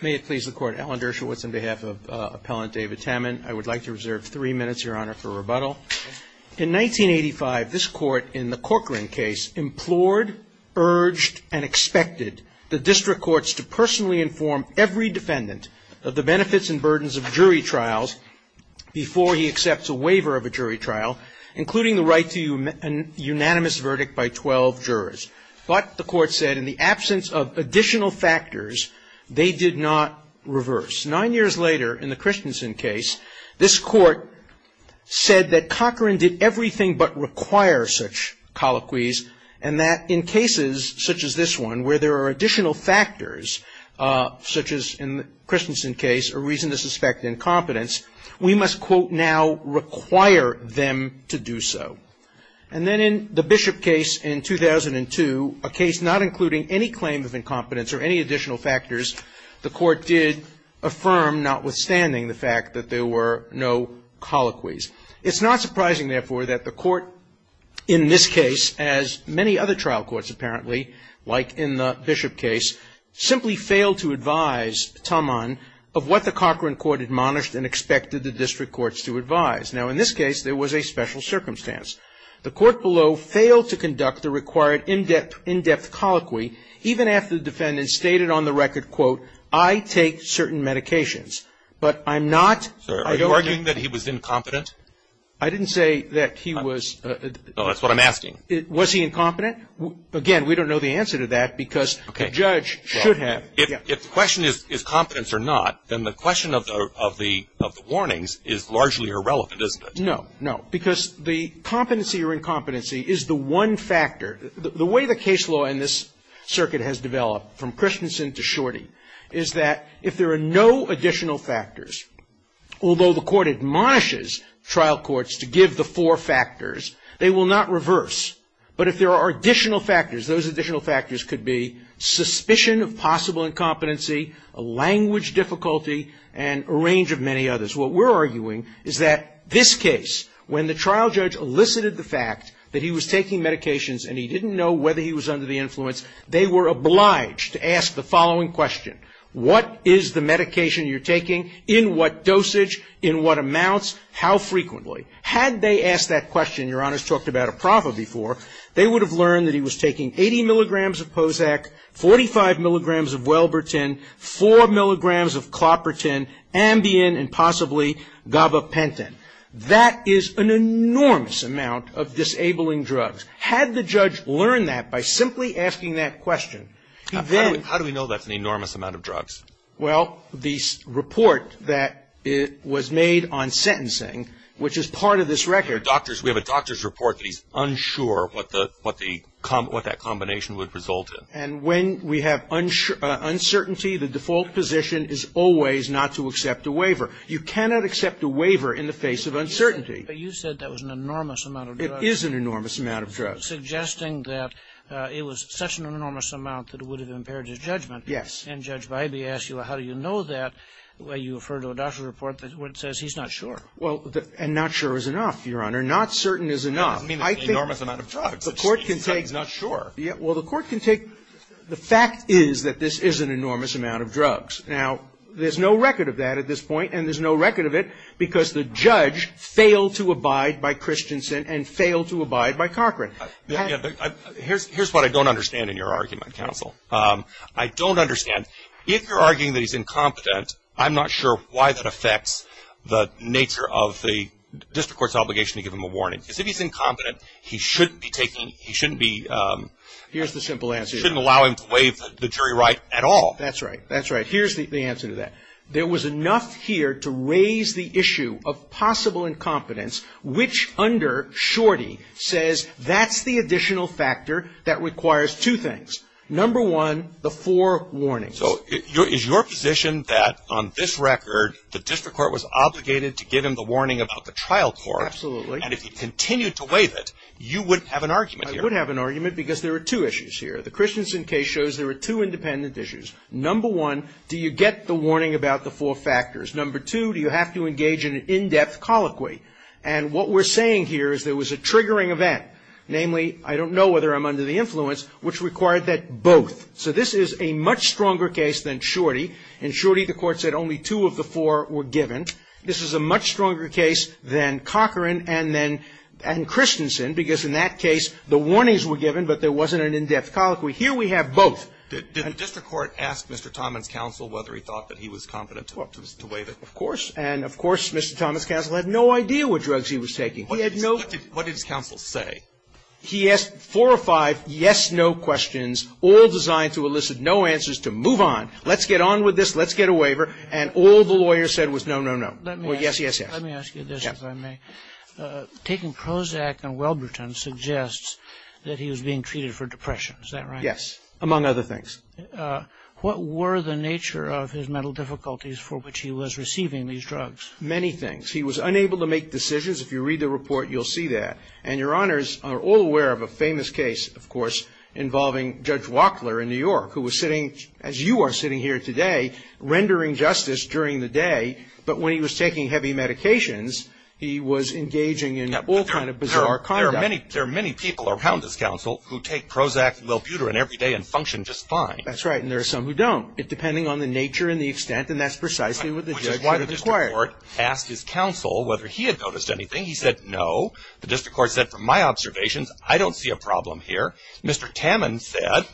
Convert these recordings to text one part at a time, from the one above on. May it please the Court, Alan Dershowitz on behalf of Appellant David Tamman. I would like to reserve three minutes, Your Honor, for rebuttal. In 1985, this Court in the Corcoran case implored, urged, and expected the district courts to personally inform every defendant of the benefits and burdens of jury trials before he accepts a waiver of a jury trial, including the right to a unanimous verdict by 12 jurors. But the Court said in the absence of additional factors, they did not reverse. Nine years later, in the Christensen case, this Court said that Corcoran did everything but require such colloquies, and that in cases such as this one, where there are additional factors, such as in the Christensen case, a reason to suspect incompetence, we must, quote, now require them to do so. And then in the Bishop case in 2002, a case not including any claim of incompetence or any additional factors, the Court did affirm, notwithstanding the fact that there were no colloquies. It's not surprising, therefore, that the Court in this case, as many other trial courts apparently, like in the Bishop case, simply failed to advise Tamman of what the Corcoran Court admonished and expected the district courts to advise. Now, in this case, there was a special circumstance. The Court below failed to conduct the required in-depth colloquy, even after the defendant stated on the record, quote, I take certain medications. But I'm not, I don't think he was incompetent. I didn't say that he was. No, that's what I'm asking. Was he incompetent? Again, we don't know the answer to that, because the judge should have. If the question is competence or not, then the question of the warnings is largely irrelevant, isn't it? No, no. Because the competency or incompetency is the one factor. The way the case law in this circuit has developed, from Christensen to Shorty, is that if there are no additional factors, although the Court admonishes trial courts to give the four factors, they will not reverse. But if there are additional factors, those additional factors could be suspicion of possible incompetency, language difficulty, and a range of many others. What we're arguing is that this case, when the trial judge elicited the fact that he was taking medications and he didn't know whether he was under the influence, they were obliged to ask the following question. What is the medication you're taking? In what dosage? In what amounts? How frequently? Had they asked that question, Your Honors talked about a prover before, they would have learned that he was taking 80 milligrams of POSAC, 45 milligrams of Welbertin, 4 milligrams of Cloperton, Ambien, and possibly Gabapentin. That is an enormous amount of disabling drugs. Had the judge learned that by simply asking that question, he then ---- Well, the report that was made on sentencing, which is part of this record ---- We have a doctor's report that he's unsure what the, what the, what that combination would result in. And when we have uncertainty, the default position is always not to accept a waiver. You cannot accept a waiver in the face of uncertainty. But you said that was an enormous amount of drugs. It is an enormous amount of drugs. Suggesting that it was such an enormous amount that it would have impaired his judgment. Yes. And Judge Bybee asked you, well, how do you know that? Well, you referred to a doctor's report that says he's not sure. Well, and not sure is enough, Your Honor. Not certain is enough. I mean, it's an enormous amount of drugs. The court can take ---- He's not sure. Well, the court can take, the fact is that this is an enormous amount of drugs. Now, there's no record of that at this point, and there's no record of it because the judge failed to abide by Christensen and failed to abide by Cochran. Here's what I don't understand in your argument, counsel. I don't understand, if you're arguing that he's incompetent, I'm not sure why that affects the nature of the district court's obligation to give him a warning. Because if he's incompetent, he shouldn't be taking, he shouldn't be ---- Here's the simple answer, Your Honor. Shouldn't allow him to waive the jury right at all. That's right. That's right. Here's the answer to that. There was enough here to raise the issue of possible incompetence, which under Shorty says that's the additional factor that requires two things. Number one, the four warnings. So is your position that on this record, the district court was obligated to give him the warning about the trial court? Absolutely. And if he continued to waive it, you would have an argument here? I would have an argument because there are two issues here. The Christensen case shows there are two independent issues. Number one, do you get the warning about the four factors? Number two, do you have to engage in an in-depth colloquy? And what we're saying here is there was a triggering event, namely, I don't know whether I'm under the influence, which required that both. So this is a much stronger case than Shorty. In Shorty, the Court said only two of the four were given. This is a much stronger case than Cochran and then Christensen because in that case the warnings were given, but there wasn't an in-depth colloquy. Here we have both. Did the district court ask Mr. Thomas Counsel whether he thought that he was competent to waive it? Of course. And, of course, Mr. Thomas Counsel had no idea what drugs he was taking. He had no ---- What did his counsel say? He asked four or five yes-no questions, all designed to elicit no answers, to move on. Let's get on with this. Let's get a waiver. And all the lawyer said was no, no, no. Well, yes, yes, yes. Let me ask you this, if I may. Taking Prozac and Welberton suggests that he was being treated for depression. Is that right? Yes, among other things. What were the nature of his mental difficulties for which he was receiving these drugs? Many things. He was unable to make decisions. If you read the report, you'll see that. And your Honors are all aware of a famous case, of course, involving Judge Wachtler in New York, who was sitting, as you are sitting here today, rendering justice during the day. But when he was taking heavy medications, he was engaging in all kind of bizarre conduct. There are many people around this counsel who take Prozac and Welbuterin every day and function just fine. That's right. And there are some who don't. It's depending on the nature and the extent, and that's precisely what the judge would have required. The district court asked his counsel whether he had noticed anything. He said no. The district court said, from my observations, I don't see a problem here. Mr. Tammon said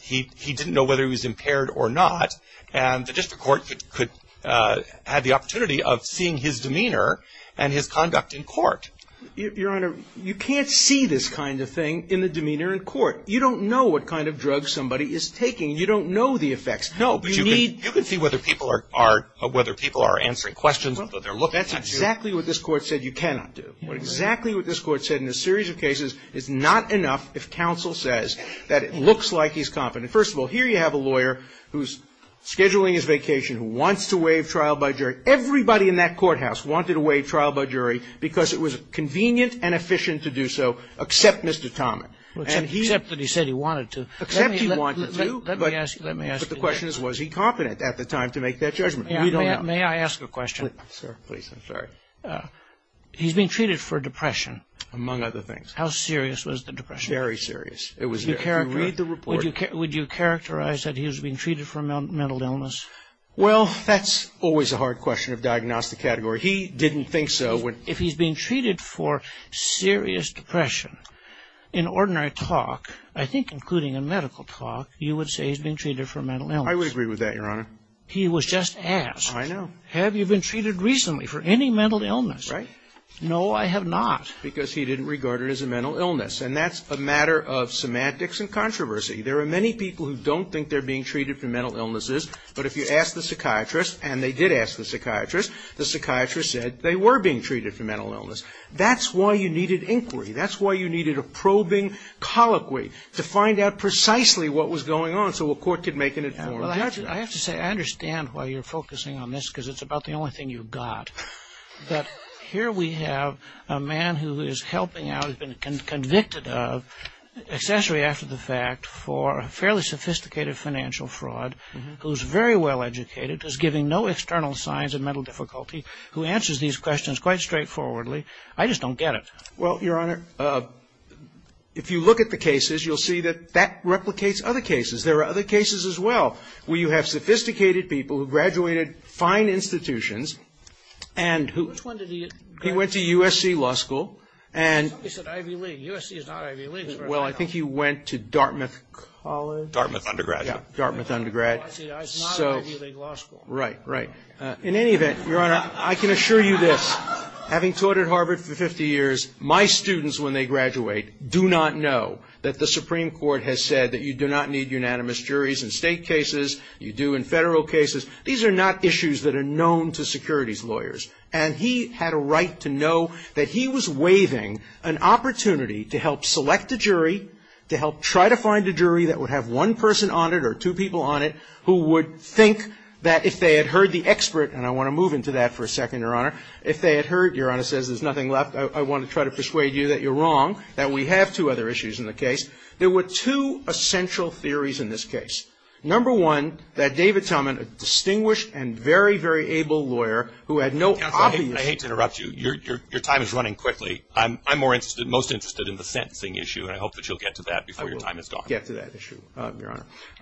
he didn't know whether he was impaired or not. And the district court could have the opportunity of seeing his demeanor and his conduct in court. Your Honor, you can't see this kind of thing in the demeanor in court. You don't know what kind of drugs somebody is taking. You don't know the effects. You can see whether people are answering questions, but they're looking at you. That's exactly what this Court said you cannot do. Exactly what this Court said in a series of cases is not enough if counsel says that it looks like he's confident. First of all, here you have a lawyer who's scheduling his vacation, who wants to waive trial by jury. Everybody in that courthouse wanted to waive trial by jury because it was convenient and efficient to do so, except Mr. Tommon. Except that he said he wanted to. Except he wanted to. But the question is, was he confident at the time to make that judgment? May I ask a question? Sir, please. I'm sorry. He's being treated for depression. Among other things. How serious was the depression? Very serious. It was very serious. Read the report. Would you characterize that he was being treated for a mental illness? Well, that's always a hard question of diagnostic category. He didn't think so. If he's being treated for serious depression, in ordinary talk, I think including in medical talk, you would say he's being treated for a mental illness. I would agree with that, Your Honor. He was just asked. I know. Have you been treated recently for any mental illness? Right. No, I have not. Because he didn't regard it as a mental illness. And that's a matter of semantics and controversy. There are many people who don't think they're being treated for mental illnesses. But if you ask the psychiatrist, and they did ask the psychiatrist, the psychiatrist said they were being treated for mental illness. That's why you needed inquiry. That's why you needed a probing colloquy, to find out precisely what was going on, so a court could make an informed judgment. I have to say, I understand why you're focusing on this, because it's about the only thing you've got. But here we have a man who is helping out, has been convicted of, accessory after the fact, for fairly sophisticated financial fraud, who's very well educated, who's giving no external signs of mental difficulty, who answers these questions quite straightforwardly. I just don't get it. Well, Your Honor, if you look at the cases, you'll see that that replicates other cases. There are other cases as well, where you have sophisticated people who graduated fine institutions, and who — Which one did he go to? He went to USC law school, and — Somebody said Ivy League. USC is not Ivy League. Well, I think he went to Dartmouth College. Dartmouth undergraduate. Yeah, Dartmouth undergrad. I see. It's not an Ivy League law school. Right, right. In any event, Your Honor, I can assure you this. Having taught at Harvard for 50 years, my students, when they graduate, do not know that the Supreme Court has said that you do not need unanimous juries in State cases, you do in Federal cases. These are not issues that are known to securities lawyers. And he had a right to know that he was waiving an opportunity to help select a jury, to help try to find a jury that would have one person on it or two people on it, who would think that if they had heard the expert, and I want to move into that for a second, Your Honor, if they had heard, Your Honor says there's nothing left, I want to try to persuade you that you're wrong, that we have two other issues in the case. There were two essential theories in this case. Number one, that David Talman, a distinguished and very, very able lawyer who had no obvious — Counsel, I hate to interrupt you. Your time is running quickly. I'm more interested, most interested in the sentencing issue, and I hope that you'll get to that before your time is up. I will get to that issue, Your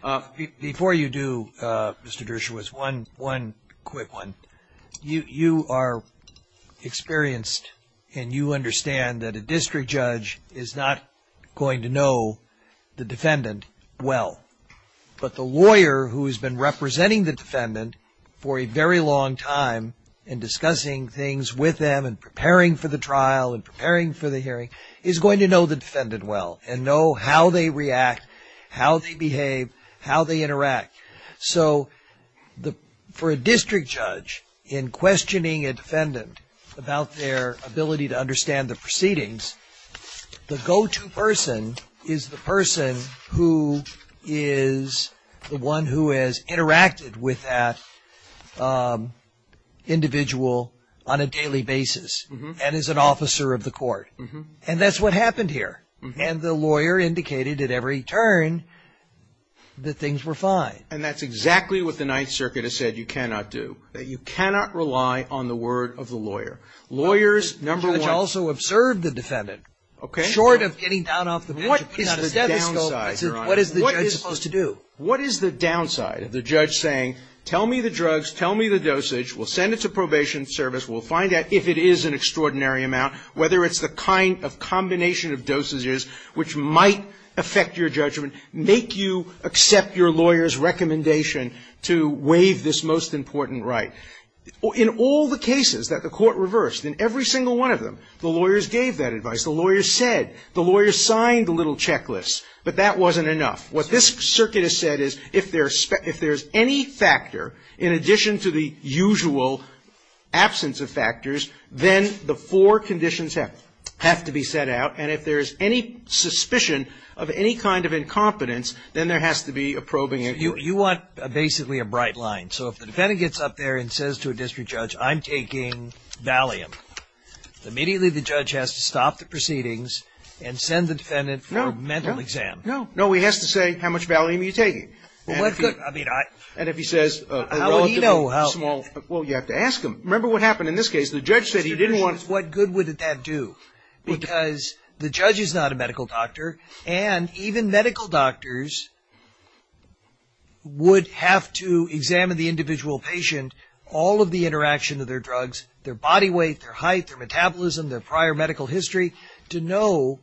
Honor. Before you do, Mr. Dershowitz, one quick one. You are experienced, and you understand that a district judge is not going to know the defendant well. But the lawyer who has been representing the defendant for a very long time and discussing things with them and preparing for the trial and preparing for the hearing is going to know the defendant well and know how they react, how they behave, how they interact. So for a district judge, in questioning a defendant about their ability to understand the proceedings, the go-to person is the person who is the one who has interacted with that individual on a daily basis and is an officer of the court. And that's what happened here. And the lawyer indicated at every turn that things were fine. And that's exactly what the Ninth Circuit has said you cannot do, that you cannot rely on the word of the lawyer. Lawyers, number one — The judge also observed the defendant. Okay. Short of getting down off the bench and putting out a stethoscope — What is the downside, Your Honor? What is the judge supposed to do? What is the downside of the judge saying, tell me the drugs, tell me the dosage, we'll send it to probation service, we'll find out if it is an extraordinary amount, whether it's the kind of combination of dosages which might affect your judgment, make you accept your lawyer's recommendation to waive this most important right. In all the cases that the court reversed, in every single one of them, the lawyers gave that advice. The lawyers said. The lawyers signed the little checklist. But that wasn't enough. What this circuit has said is if there is any factor, in addition to the usual absence of factors, then the four conditions have to be set out, and if there is any suspicion of any kind of incompetence, then there has to be a probing inquiry. So you want basically a bright line. So if the defendant gets up there and says to a district judge, I'm taking Valium, immediately the judge has to stop the proceedings and send the defendant for a mental exam. No. No. No. No. What good would that do? Because the judge is not a medical doctor, and even medical doctors would have to examine the individual patient, all of the interaction of their drugs, their body weight, their height, their metabolism, their prior medical history, to know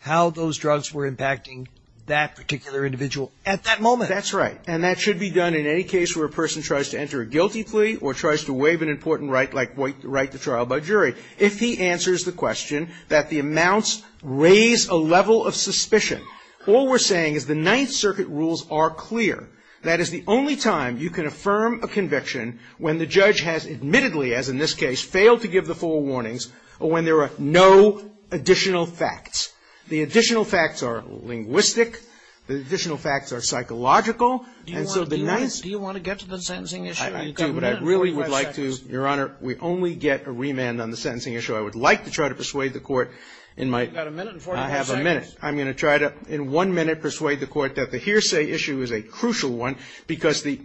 how those drugs were impacting that particular individual at that moment. That's right. And that should be done in any case where a person tries to enter a guilty plea or tries to waive an important right like the right to trial by jury. If he answers the question that the amounts raise a level of suspicion, all we're saying is the Ninth Circuit rules are clear. That is the only time you can affirm a conviction when the judge has admittedly, as in this case, failed to give the full warnings, or when there are no additional facts. The additional facts are linguistic. The additional facts are psychological. And so the Ninth — Do you want to get to the sentencing issue? I do, but I really would like to — You've got a minute and 45 seconds. Your Honor, we only get a remand on the sentencing issue. I would like to try to persuade the Court in my — You've got a minute and 45 seconds. I have a minute. I'm going to try to, in one minute, persuade the Court that the hearsay issue is a crucial one because the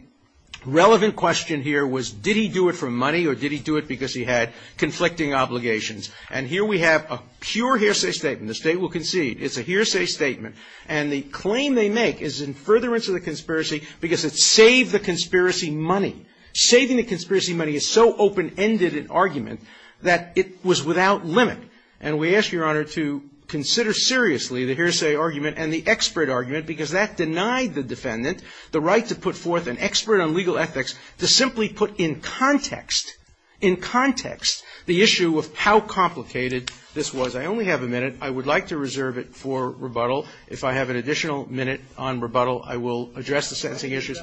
relevant question here was did he do it for money or did he do it because he had conflicting obligations. And here we have a pure hearsay statement. The State will concede. It's a hearsay statement. And the claim they make is in furtherance of the conspiracy because it saved the conspiracy money. Saving the conspiracy money is so open-ended an argument that it was without limit. And we ask, Your Honor, to consider seriously the hearsay argument and the expert argument because that denied the defendant the right to put forth an expert on legal ethics to simply put in context, in context, the issue of how complicated this was. I only have a minute. I would like to reserve it for rebuttal. If I have an additional minute on rebuttal, I will address the sentencing issue.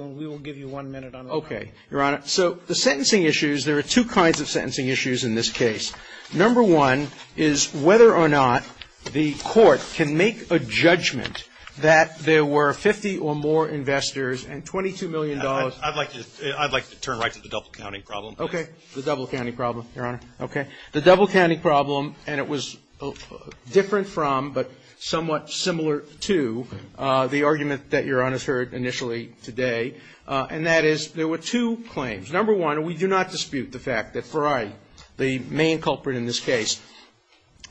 And we will give you one minute on rebuttal. Okay, Your Honor. So the sentencing issues, there are two kinds of sentencing issues in this case. Number one is whether or not the Court can make a judgment that there were 50 or more investors and $22 million. I'd like to turn right to the double-counting problem. Okay. The double-counting problem, Your Honor. Okay. The double-counting problem, and it was different from but somewhat similar to the And that is, there were two claims. Number one, we do not dispute the fact that Ferrari, the main culprit in this case,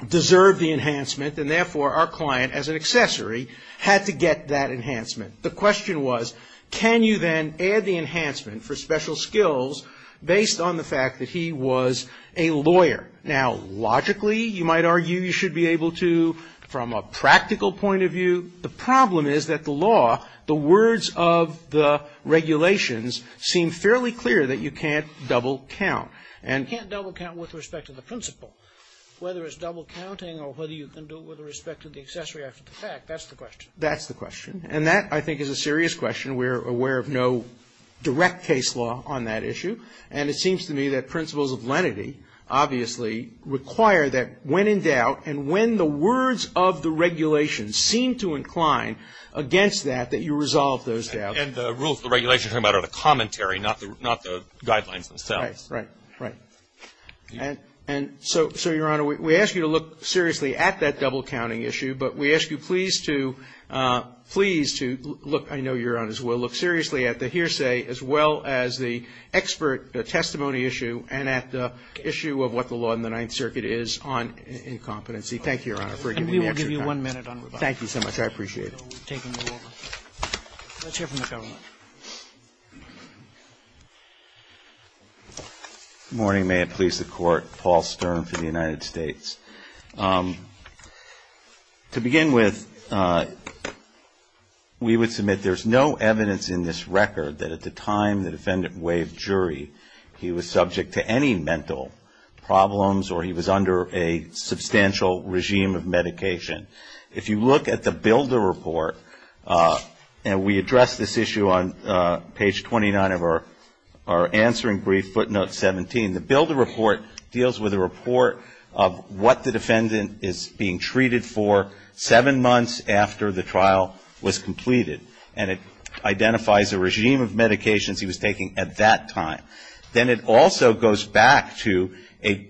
deserved the enhancement, and therefore, our client, as an accessory, had to get that enhancement. The question was, can you then add the enhancement for special skills based on the fact that he was a lawyer? Now, logically, you might argue you should be able to from a practical point of view. The problem is that the law, the words of the regulations, seem fairly clear that you can't double-count. You can't double-count with respect to the principle, whether it's double-counting or whether you can do it with respect to the accessory after the fact. That's the question. That's the question. And that, I think, is a serious question. We're aware of no direct case law on that issue. And it seems to me that principles of lenity, obviously, require that when in doubt and when the words of the regulations seem to incline against that, that you resolve those doubts. And the rules of the regulations you're talking about are the commentary, not the guidelines themselves. Right, right, right. And so, Your Honor, we ask you to look seriously at that double-counting issue, but we ask you please to look, I know Your Honors will, look seriously at the hearsay as well as the expert testimony issue and at the issue of what the law on the Ninth Circuit is on incompetency. Thank you, Your Honor, for giving me the extra time. Thank you so much. I appreciate it. Let's hear from the government. Good morning. May it please the Court. Paul Stern for the United States. To begin with, we would submit there's no evidence in this record that at the time the defendant waived jury, he was subject to any mental problems or he was under a substantial regime of medication. If you look at the Builder Report, and we address this issue on page 29 of our answering brief, footnote 17, the Builder Report deals with a report of what the defendant is being treated for seven months after the trial was completed. And it identifies a regime of medications he was taking at that time. Then it also goes back to a,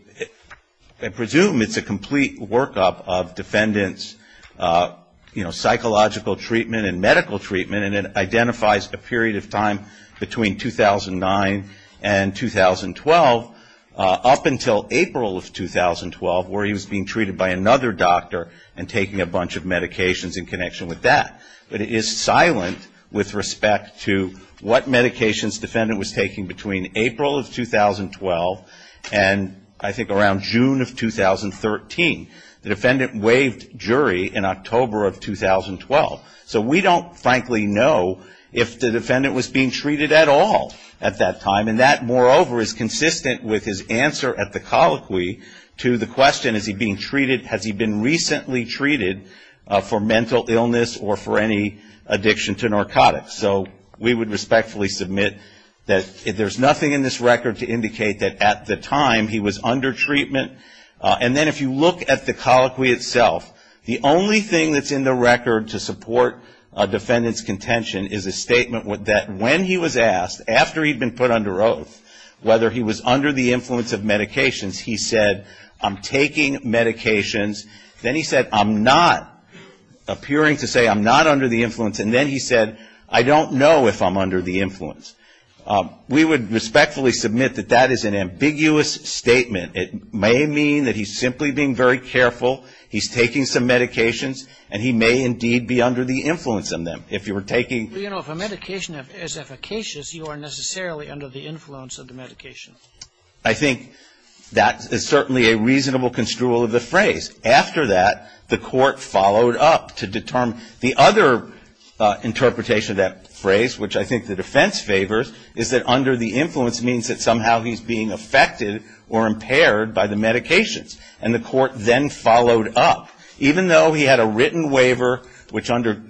I presume it's a complete workup of defendant's, you know, psychological treatment and medical treatment, and it identifies a period of time between 2009 and 2012 up until April of 2012 where he was being treated by another doctor and taking a bunch of medications in connection with that. But it is silent with respect to what medications the defendant was taking between April of 2012 and I think around June of 2013. The defendant waived jury in October of 2012. So we don't frankly know if the defendant was being treated at all at that time. And that, moreover, is consistent with his answer at the colloquy to the question, is he being treated, has he been recently treated for mental illness or for any addiction to narcotics. So we would respectfully submit that there's nothing in this record to indicate that at the time he was under treatment. And then if you look at the colloquy itself, the only thing that's in the record to support a defendant's contention is a statement that when he was asked, after he'd been put under oath, whether he was under the influence of taking medications, then he said, I'm not, appearing to say I'm not under the influence. And then he said, I don't know if I'm under the influence. We would respectfully submit that that is an ambiguous statement. It may mean that he's simply being very careful, he's taking some medications, and he may indeed be under the influence of them. If you were taking If a medication is efficacious, you are necessarily under the influence of the medication. I think that is certainly a reasonable construal of the phrase. After that, the court followed up to determine the other interpretation of that phrase, which I think the defense favors, is that under the influence means that somehow he's being affected or impaired by the medications. And the court then followed up. Even though he had a written waiver, which under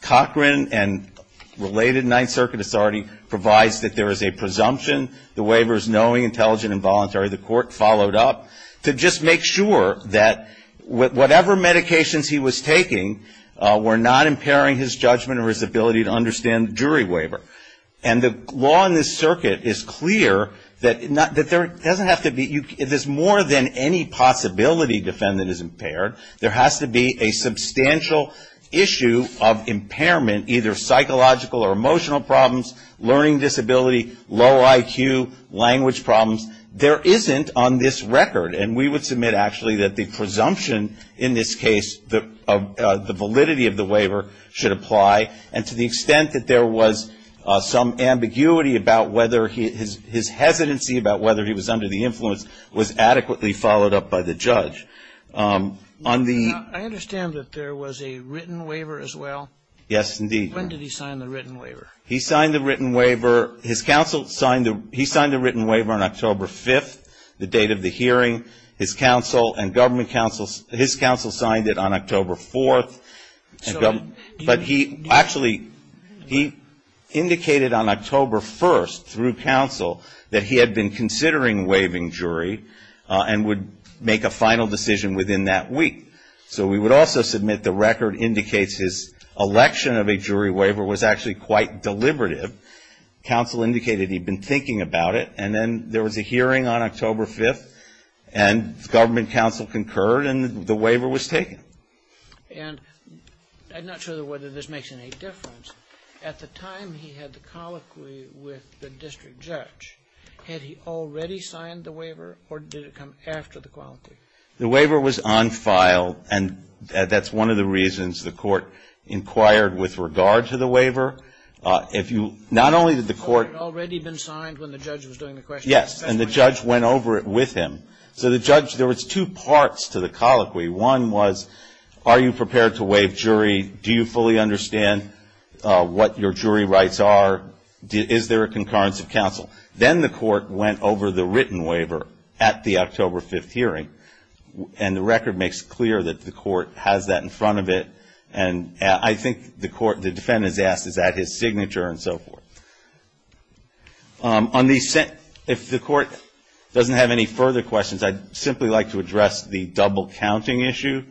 Cochran and related Ninth Circuit authority provides that there is a presumption, the waiver is knowing, intelligent, and voluntary, the court followed up to just make sure that whatever medications he was taking were not impairing his judgment or his ability to understand the jury waiver. And the law in this circuit is clear that there doesn't have to be, there's more than any possibility defendant is impaired. There has to be a substantial issue of impairment, either psychological or emotional problems, learning disability, low IQ, language problems. There isn't on this record, and we would submit actually that the presumption in this case, the validity of the waiver should apply. And to the extent that there was some ambiguity about whether his hesitancy about whether he was under the influence was adequately followed up by the judge. On the I understand that there was a written waiver as well. Yes, indeed. When did he sign the written waiver? He signed the written waiver. His counsel signed the written waiver on October 5th, the date of the hearing. His counsel and government counsel, his counsel signed it on October 4th. So But he actually, he indicated on October 1st through counsel that he had been considering waiving jury and would make a final decision within that week. So we would also submit the record indicates his election of a jury waiver was actually quite deliberative. Counsel indicated he'd been thinking about it, and then there was a hearing on October 5th, and government counsel concurred, and the waiver was taken. And I'm not sure whether this makes any difference. At the time he had the colloquy with the district judge, had he already signed the waiver, or did it come after the colloquy? The waiver was on file, and that's one of the reasons the Court inquired with regard to the waiver. If you, not only did the Court The waiver had already been signed when the judge was doing the question. Yes, and the judge went over it with him. So the judge, there was two parts to the colloquy. One was, are you prepared to waive jury? Do you fully understand what your jury rights are? Is there a concurrence of counsel? Then the Court went over the written waiver at the October 5th hearing, and the record makes clear that the Court has that in front of it, and I think the Court, the defendant's asked, is that his signature, and so forth. If the Court doesn't have any further questions, I'd simply like to address the double counting issue.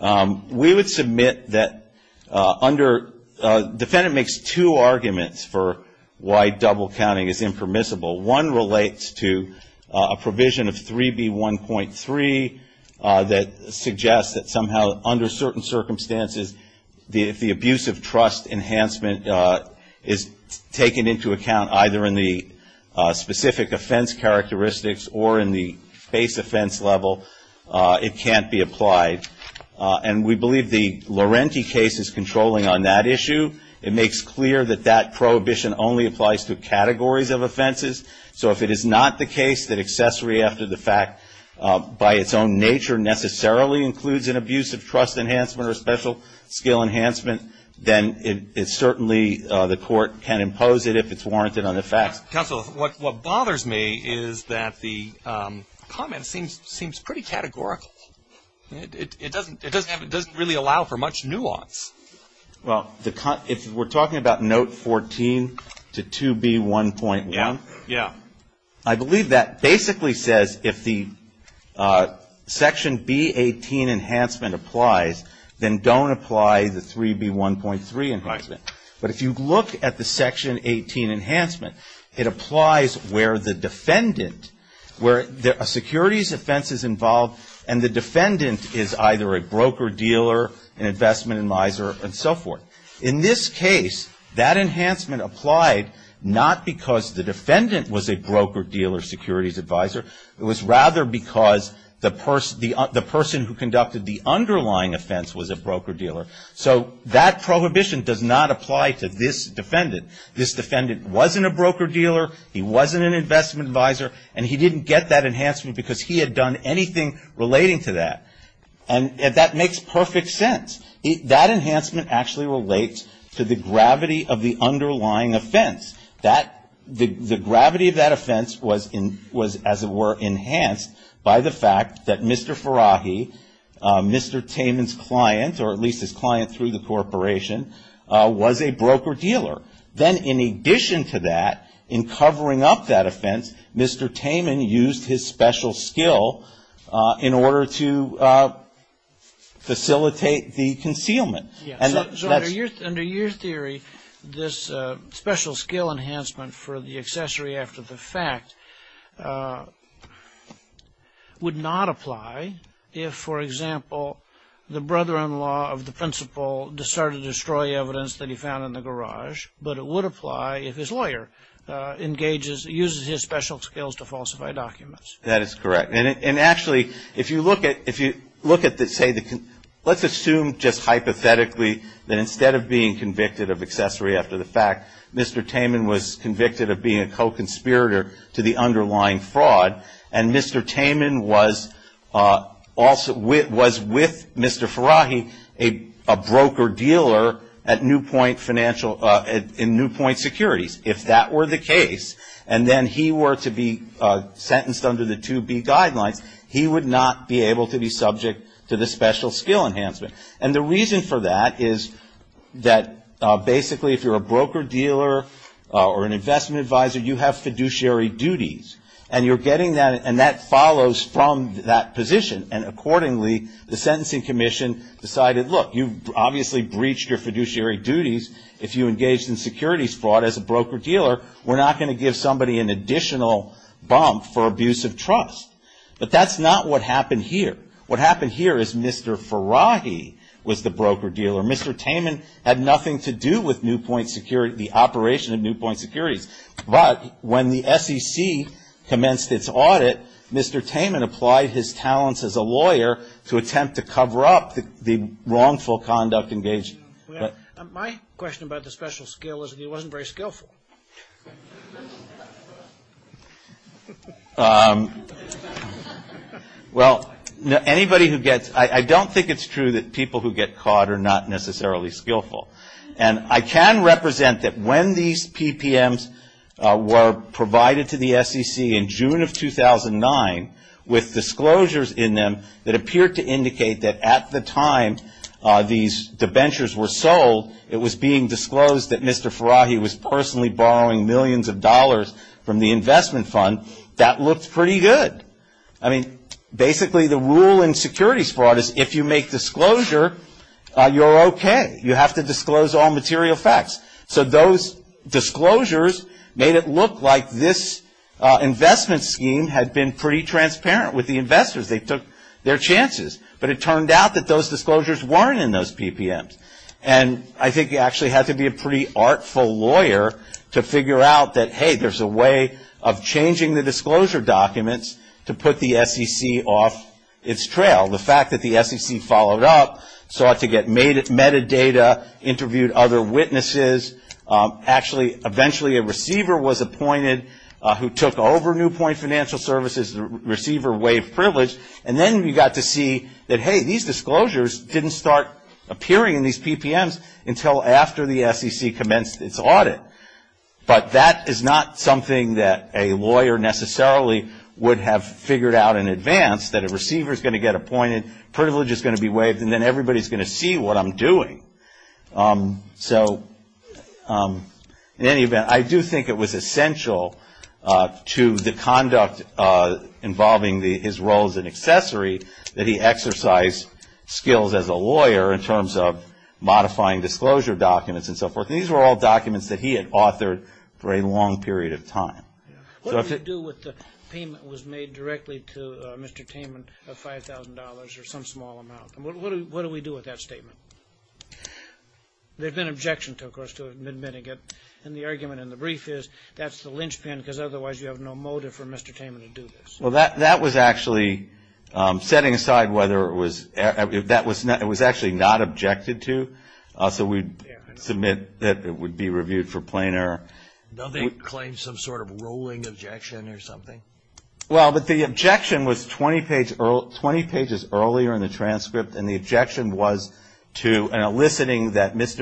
We would submit that under, the defendant makes two arguments for why double counting is impermissible. One relates to a provision of 3B1.3 that suggests that somehow under certain circumstances, if the abuse of trust enhancement is taken into account either in the specific offense characteristics or in the base offense level, it can't be applied. And we believe the Laurenti case is controlling on that issue. It makes clear that that prohibition only applies to categories of offenses. So if it is not the case that accessory after the fact, by its own nature, necessarily includes an abuse of trust enhancement or special skill enhancement, then it certainly, the Court can impose it if it's warranted on the facts. Counsel, what bothers me is that the comment seems pretty categorical. It doesn't really allow for much nuance. Well, if we're talking about note 14 to 2B1.1. Yeah. I believe that basically says if the section B18 enhancement applies, then don't apply the 3B1.3 enhancement. But if you look at the section 18 enhancement, it applies where the defendant, where a securities offense is involved and the defendant is either a broker-dealer, an investment advisor and so forth. In this case, that enhancement applied not because the defendant was a broker-dealer securities advisor. It was rather because the person who conducted the underlying offense was a broker-dealer. So that prohibition does not apply to this defendant. This defendant wasn't a broker-dealer. He wasn't an investment advisor. And he didn't get that enhancement because he had done anything relating to that. And that makes perfect sense. That enhancement actually relates to the gravity of the underlying offense. The gravity of that offense was, as it were, by the fact that Mr. Farahi, Mr. Taman's client, or at least his client through the corporation, was a broker-dealer. Then in addition to that, in covering up that offense, Mr. Taman used his special skill in order to facilitate the concealment. So under your theory, this special skill enhancement for the accessory after the fact would not apply if, for example, the brother-in-law of the principal decided to destroy evidence that he found in the garage, but it would apply if his lawyer engages, uses his special skills to falsify documents. That is correct. And actually, if you look at, let's assume just hypothetically that instead of being convicted of accessory after the fact, Mr. Taman was convicted of being a co-conspirator to the underlying fraud, and Mr. Taman was with Mr. Farahi a broker-dealer in Newpoint Securities. If that were the case, and then he were to be sentenced under the 2B guidelines, he would not be able to be subject to the special skill enhancement. And the reason for that is that basically if you're a broker-dealer or an investment advisor, you have fiduciary duties. And you're getting that, and that follows from that position. And accordingly, the sentencing commission decided, look, you've obviously breached your fiduciary duties if you engaged in securities fraud as a broker-dealer. We're not going to give somebody an additional bump for abuse of trust. But that's not what happened here. What happened here is Mr. Farahi was the broker-dealer. Mr. Taman had nothing to do with Newpoint Securities, the operation of Newpoint Securities. But when the SEC commenced its audit, Mr. Taman applied his talents as a lawyer to attempt to cover up the wrongful conduct engaged in. My question about the special skill is that he wasn't very skillful. Well, anybody who gets – I don't think it's true that people who get caught are not necessarily skillful. And I can represent that when these PPMs were provided to the SEC in June of 2009 with disclosures in them that appeared to indicate that at the time these debentures were sold, it was being disclosed that Mr. Farahi was personally borrowing millions of dollars from the investment fund, that looked pretty good. I mean, basically the rule in securities fraud is if you make disclosure, you're okay. You have to disclose all material facts. So those disclosures made it look like this investment scheme had been pretty transparent with the investors. They took their chances. But it turned out that those disclosures weren't in those PPMs. And I think you actually have to be a pretty artful lawyer to figure out that, hey, there's a way of changing the disclosure documents to put the SEC off its trail. The fact that the SEC followed up, sought to get metadata, interviewed other witnesses. Actually, eventually a receiver was appointed who took over Newpoint Financial Services, the receiver waived privilege. And then we got to see that, hey, these disclosures didn't start appearing in these PPMs until after the SEC commenced its audit. But that is not something that a lawyer necessarily would have figured out in advance, that a receiver is going to get appointed, privilege is going to be waived, and then everybody is going to see what I'm doing. So in any event, I do think it was essential to the conduct involving his role as an accessory that he exercise skills as a lawyer in terms of modifying disclosure documents and so forth. These were all documents that he had authored for a long period of time. What do we do with the payment that was made directly to Mr. Taman of $5,000 or some small amount? What do we do with that statement? There's been objection to it, of course, to admitting it. And the argument in the brief is that's the linchpin, because otherwise you have no motive for Mr. Taman to do this. Well, that was actually setting aside whether it was actually not objected to. So we submit that it would be reviewed for plain error. Don't they claim some sort of rolling objection or something? Well, but the objection was 20 pages earlier in the transcript, and the objection was to an enlisting that Ms.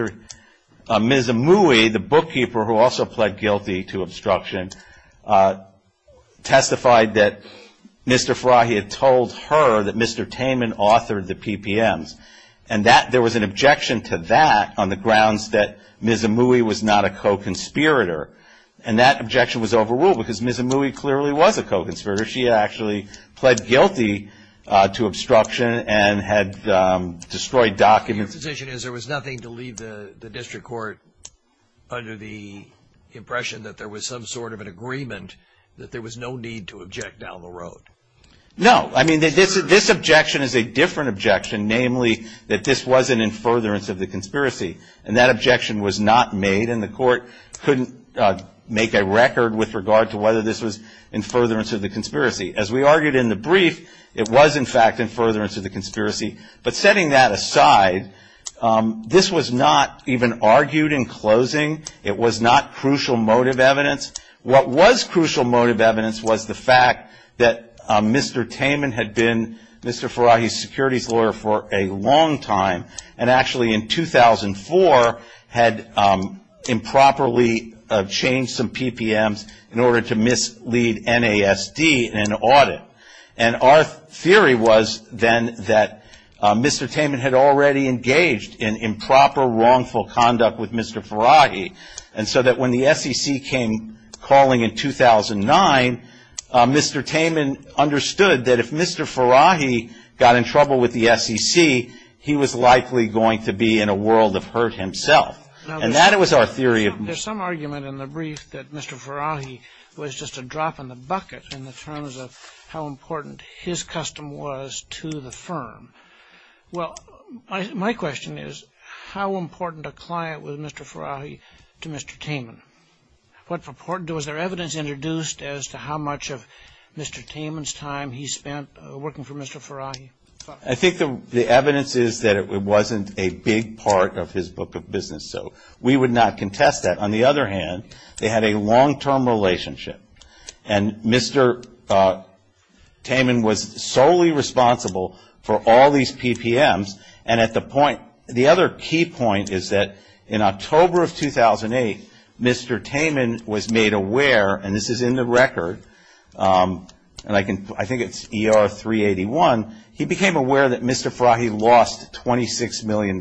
Amui, the bookkeeper who also pled guilty to obstruction, testified that Mr. Farahi had told her that Mr. Taman authored the PPMs. And there was an objection to that on the grounds that Ms. Amui was not a co-conspirator. And that objection was overruled, because Ms. Amui clearly was a co-conspirator. She actually pled guilty to obstruction and had destroyed documents. Your position is there was nothing to leave the district court under the impression that there was some sort of an agreement, that there was no need to object down the road? No. I mean, this objection is a different objection, namely that this was an in furtherance of the conspiracy. And that objection was not made, and the court couldn't make a record with regard to whether this was in furtherance of the conspiracy. As we argued in the brief, it was, in fact, in furtherance of the conspiracy. But setting that aside, this was not even argued in closing. It was not crucial motive evidence. What was crucial motive evidence was the fact that Mr. Taman had been Mr. Farahi's securities lawyer for a long time, and actually in 2004 had improperly changed some PPMs in order to mislead NASD in an audit. And our theory was then that Mr. Taman had already engaged in improper, wrongful conduct with Mr. Farahi, and so that when the SEC came calling in 2009, Mr. Taman understood that if Mr. Farahi got in trouble with the SEC, he was likely going to be in a world of hurt himself. And that was our theory. There's some argument in the brief that Mr. Farahi was just a drop in the bucket in the terms of how important his custom was to the firm. Well, my question is, how important a client was Mr. Farahi to Mr. Taman? Was there evidence introduced as to how much of Mr. Taman's time he spent working for Mr. Farahi? I think the evidence is that it wasn't a big part of his book of business, so we would not contest that. On the other hand, they had a long-term relationship. And Mr. Taman was solely responsible for all these PPMs. And the other key point is that in October of 2008, Mr. Taman was made aware, and this is in the record, and I think it's ER 381, he became aware that Mr. Farahi lost $26 million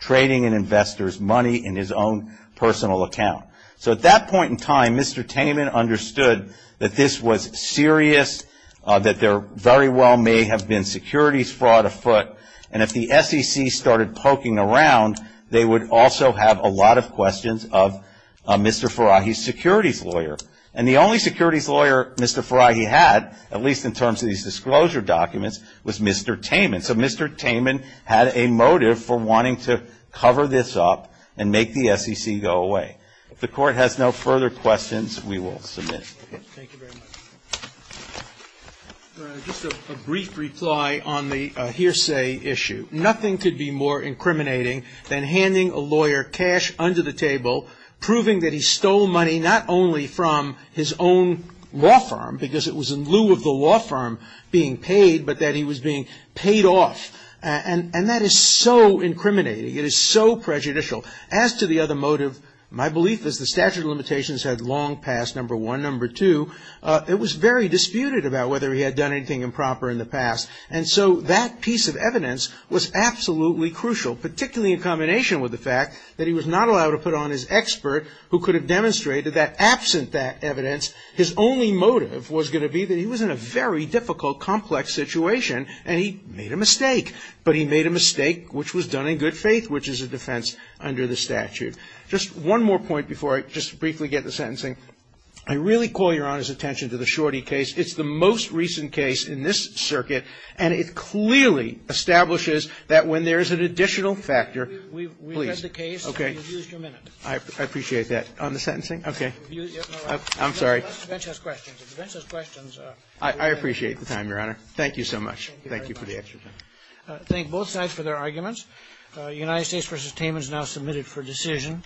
trading in investors' money in his own personal account. So at that point in time, Mr. Taman understood that this was serious, that there very well may have been securities fraud afoot. And if the SEC started poking around, they would also have a lot of questions of Mr. Farahi's securities lawyer. And the only securities lawyer Mr. Farahi had, at least in terms of these disclosure documents, was Mr. Taman. So Mr. Taman had a motive for wanting to cover this up and make the SEC go away. If the Court has no further questions, we will submit. Thank you very much. Just a brief reply on the hearsay issue. Nothing could be more incriminating than handing a lawyer cash under the table, proving that he stole money not only from his own law firm, because it was in lieu of the law firm being paid, but that he was being paid off. And that is so incriminating. It is so prejudicial. As to the other motive, my belief is the statute of limitations had long passed, number one. Number two, it was very disputed about whether he had done anything improper in the past. And so that piece of evidence was absolutely crucial, particularly in combination with the fact that he was not allowed to put on his expert, who could have demonstrated that absent that evidence, his only motive was going to be that he was in a very difficult, complex situation and he made a mistake. But he made a mistake which was done in good faith, which is a defense under the statute. Just one more point before I just briefly get to sentencing. I really call Your Honor's attention to the Shorty case. It's the most recent case in this circuit, and it clearly establishes that when there is an additional factor, please. We've read the case and we've used your minute. I appreciate that. On the sentencing? Okay. I'm sorry. The bench has questions. The bench has questions. I appreciate the time, Your Honor. Thank you so much. Thank you for the extra time. Thank both sides for their arguments. United States v. Taman is now submitted for decision.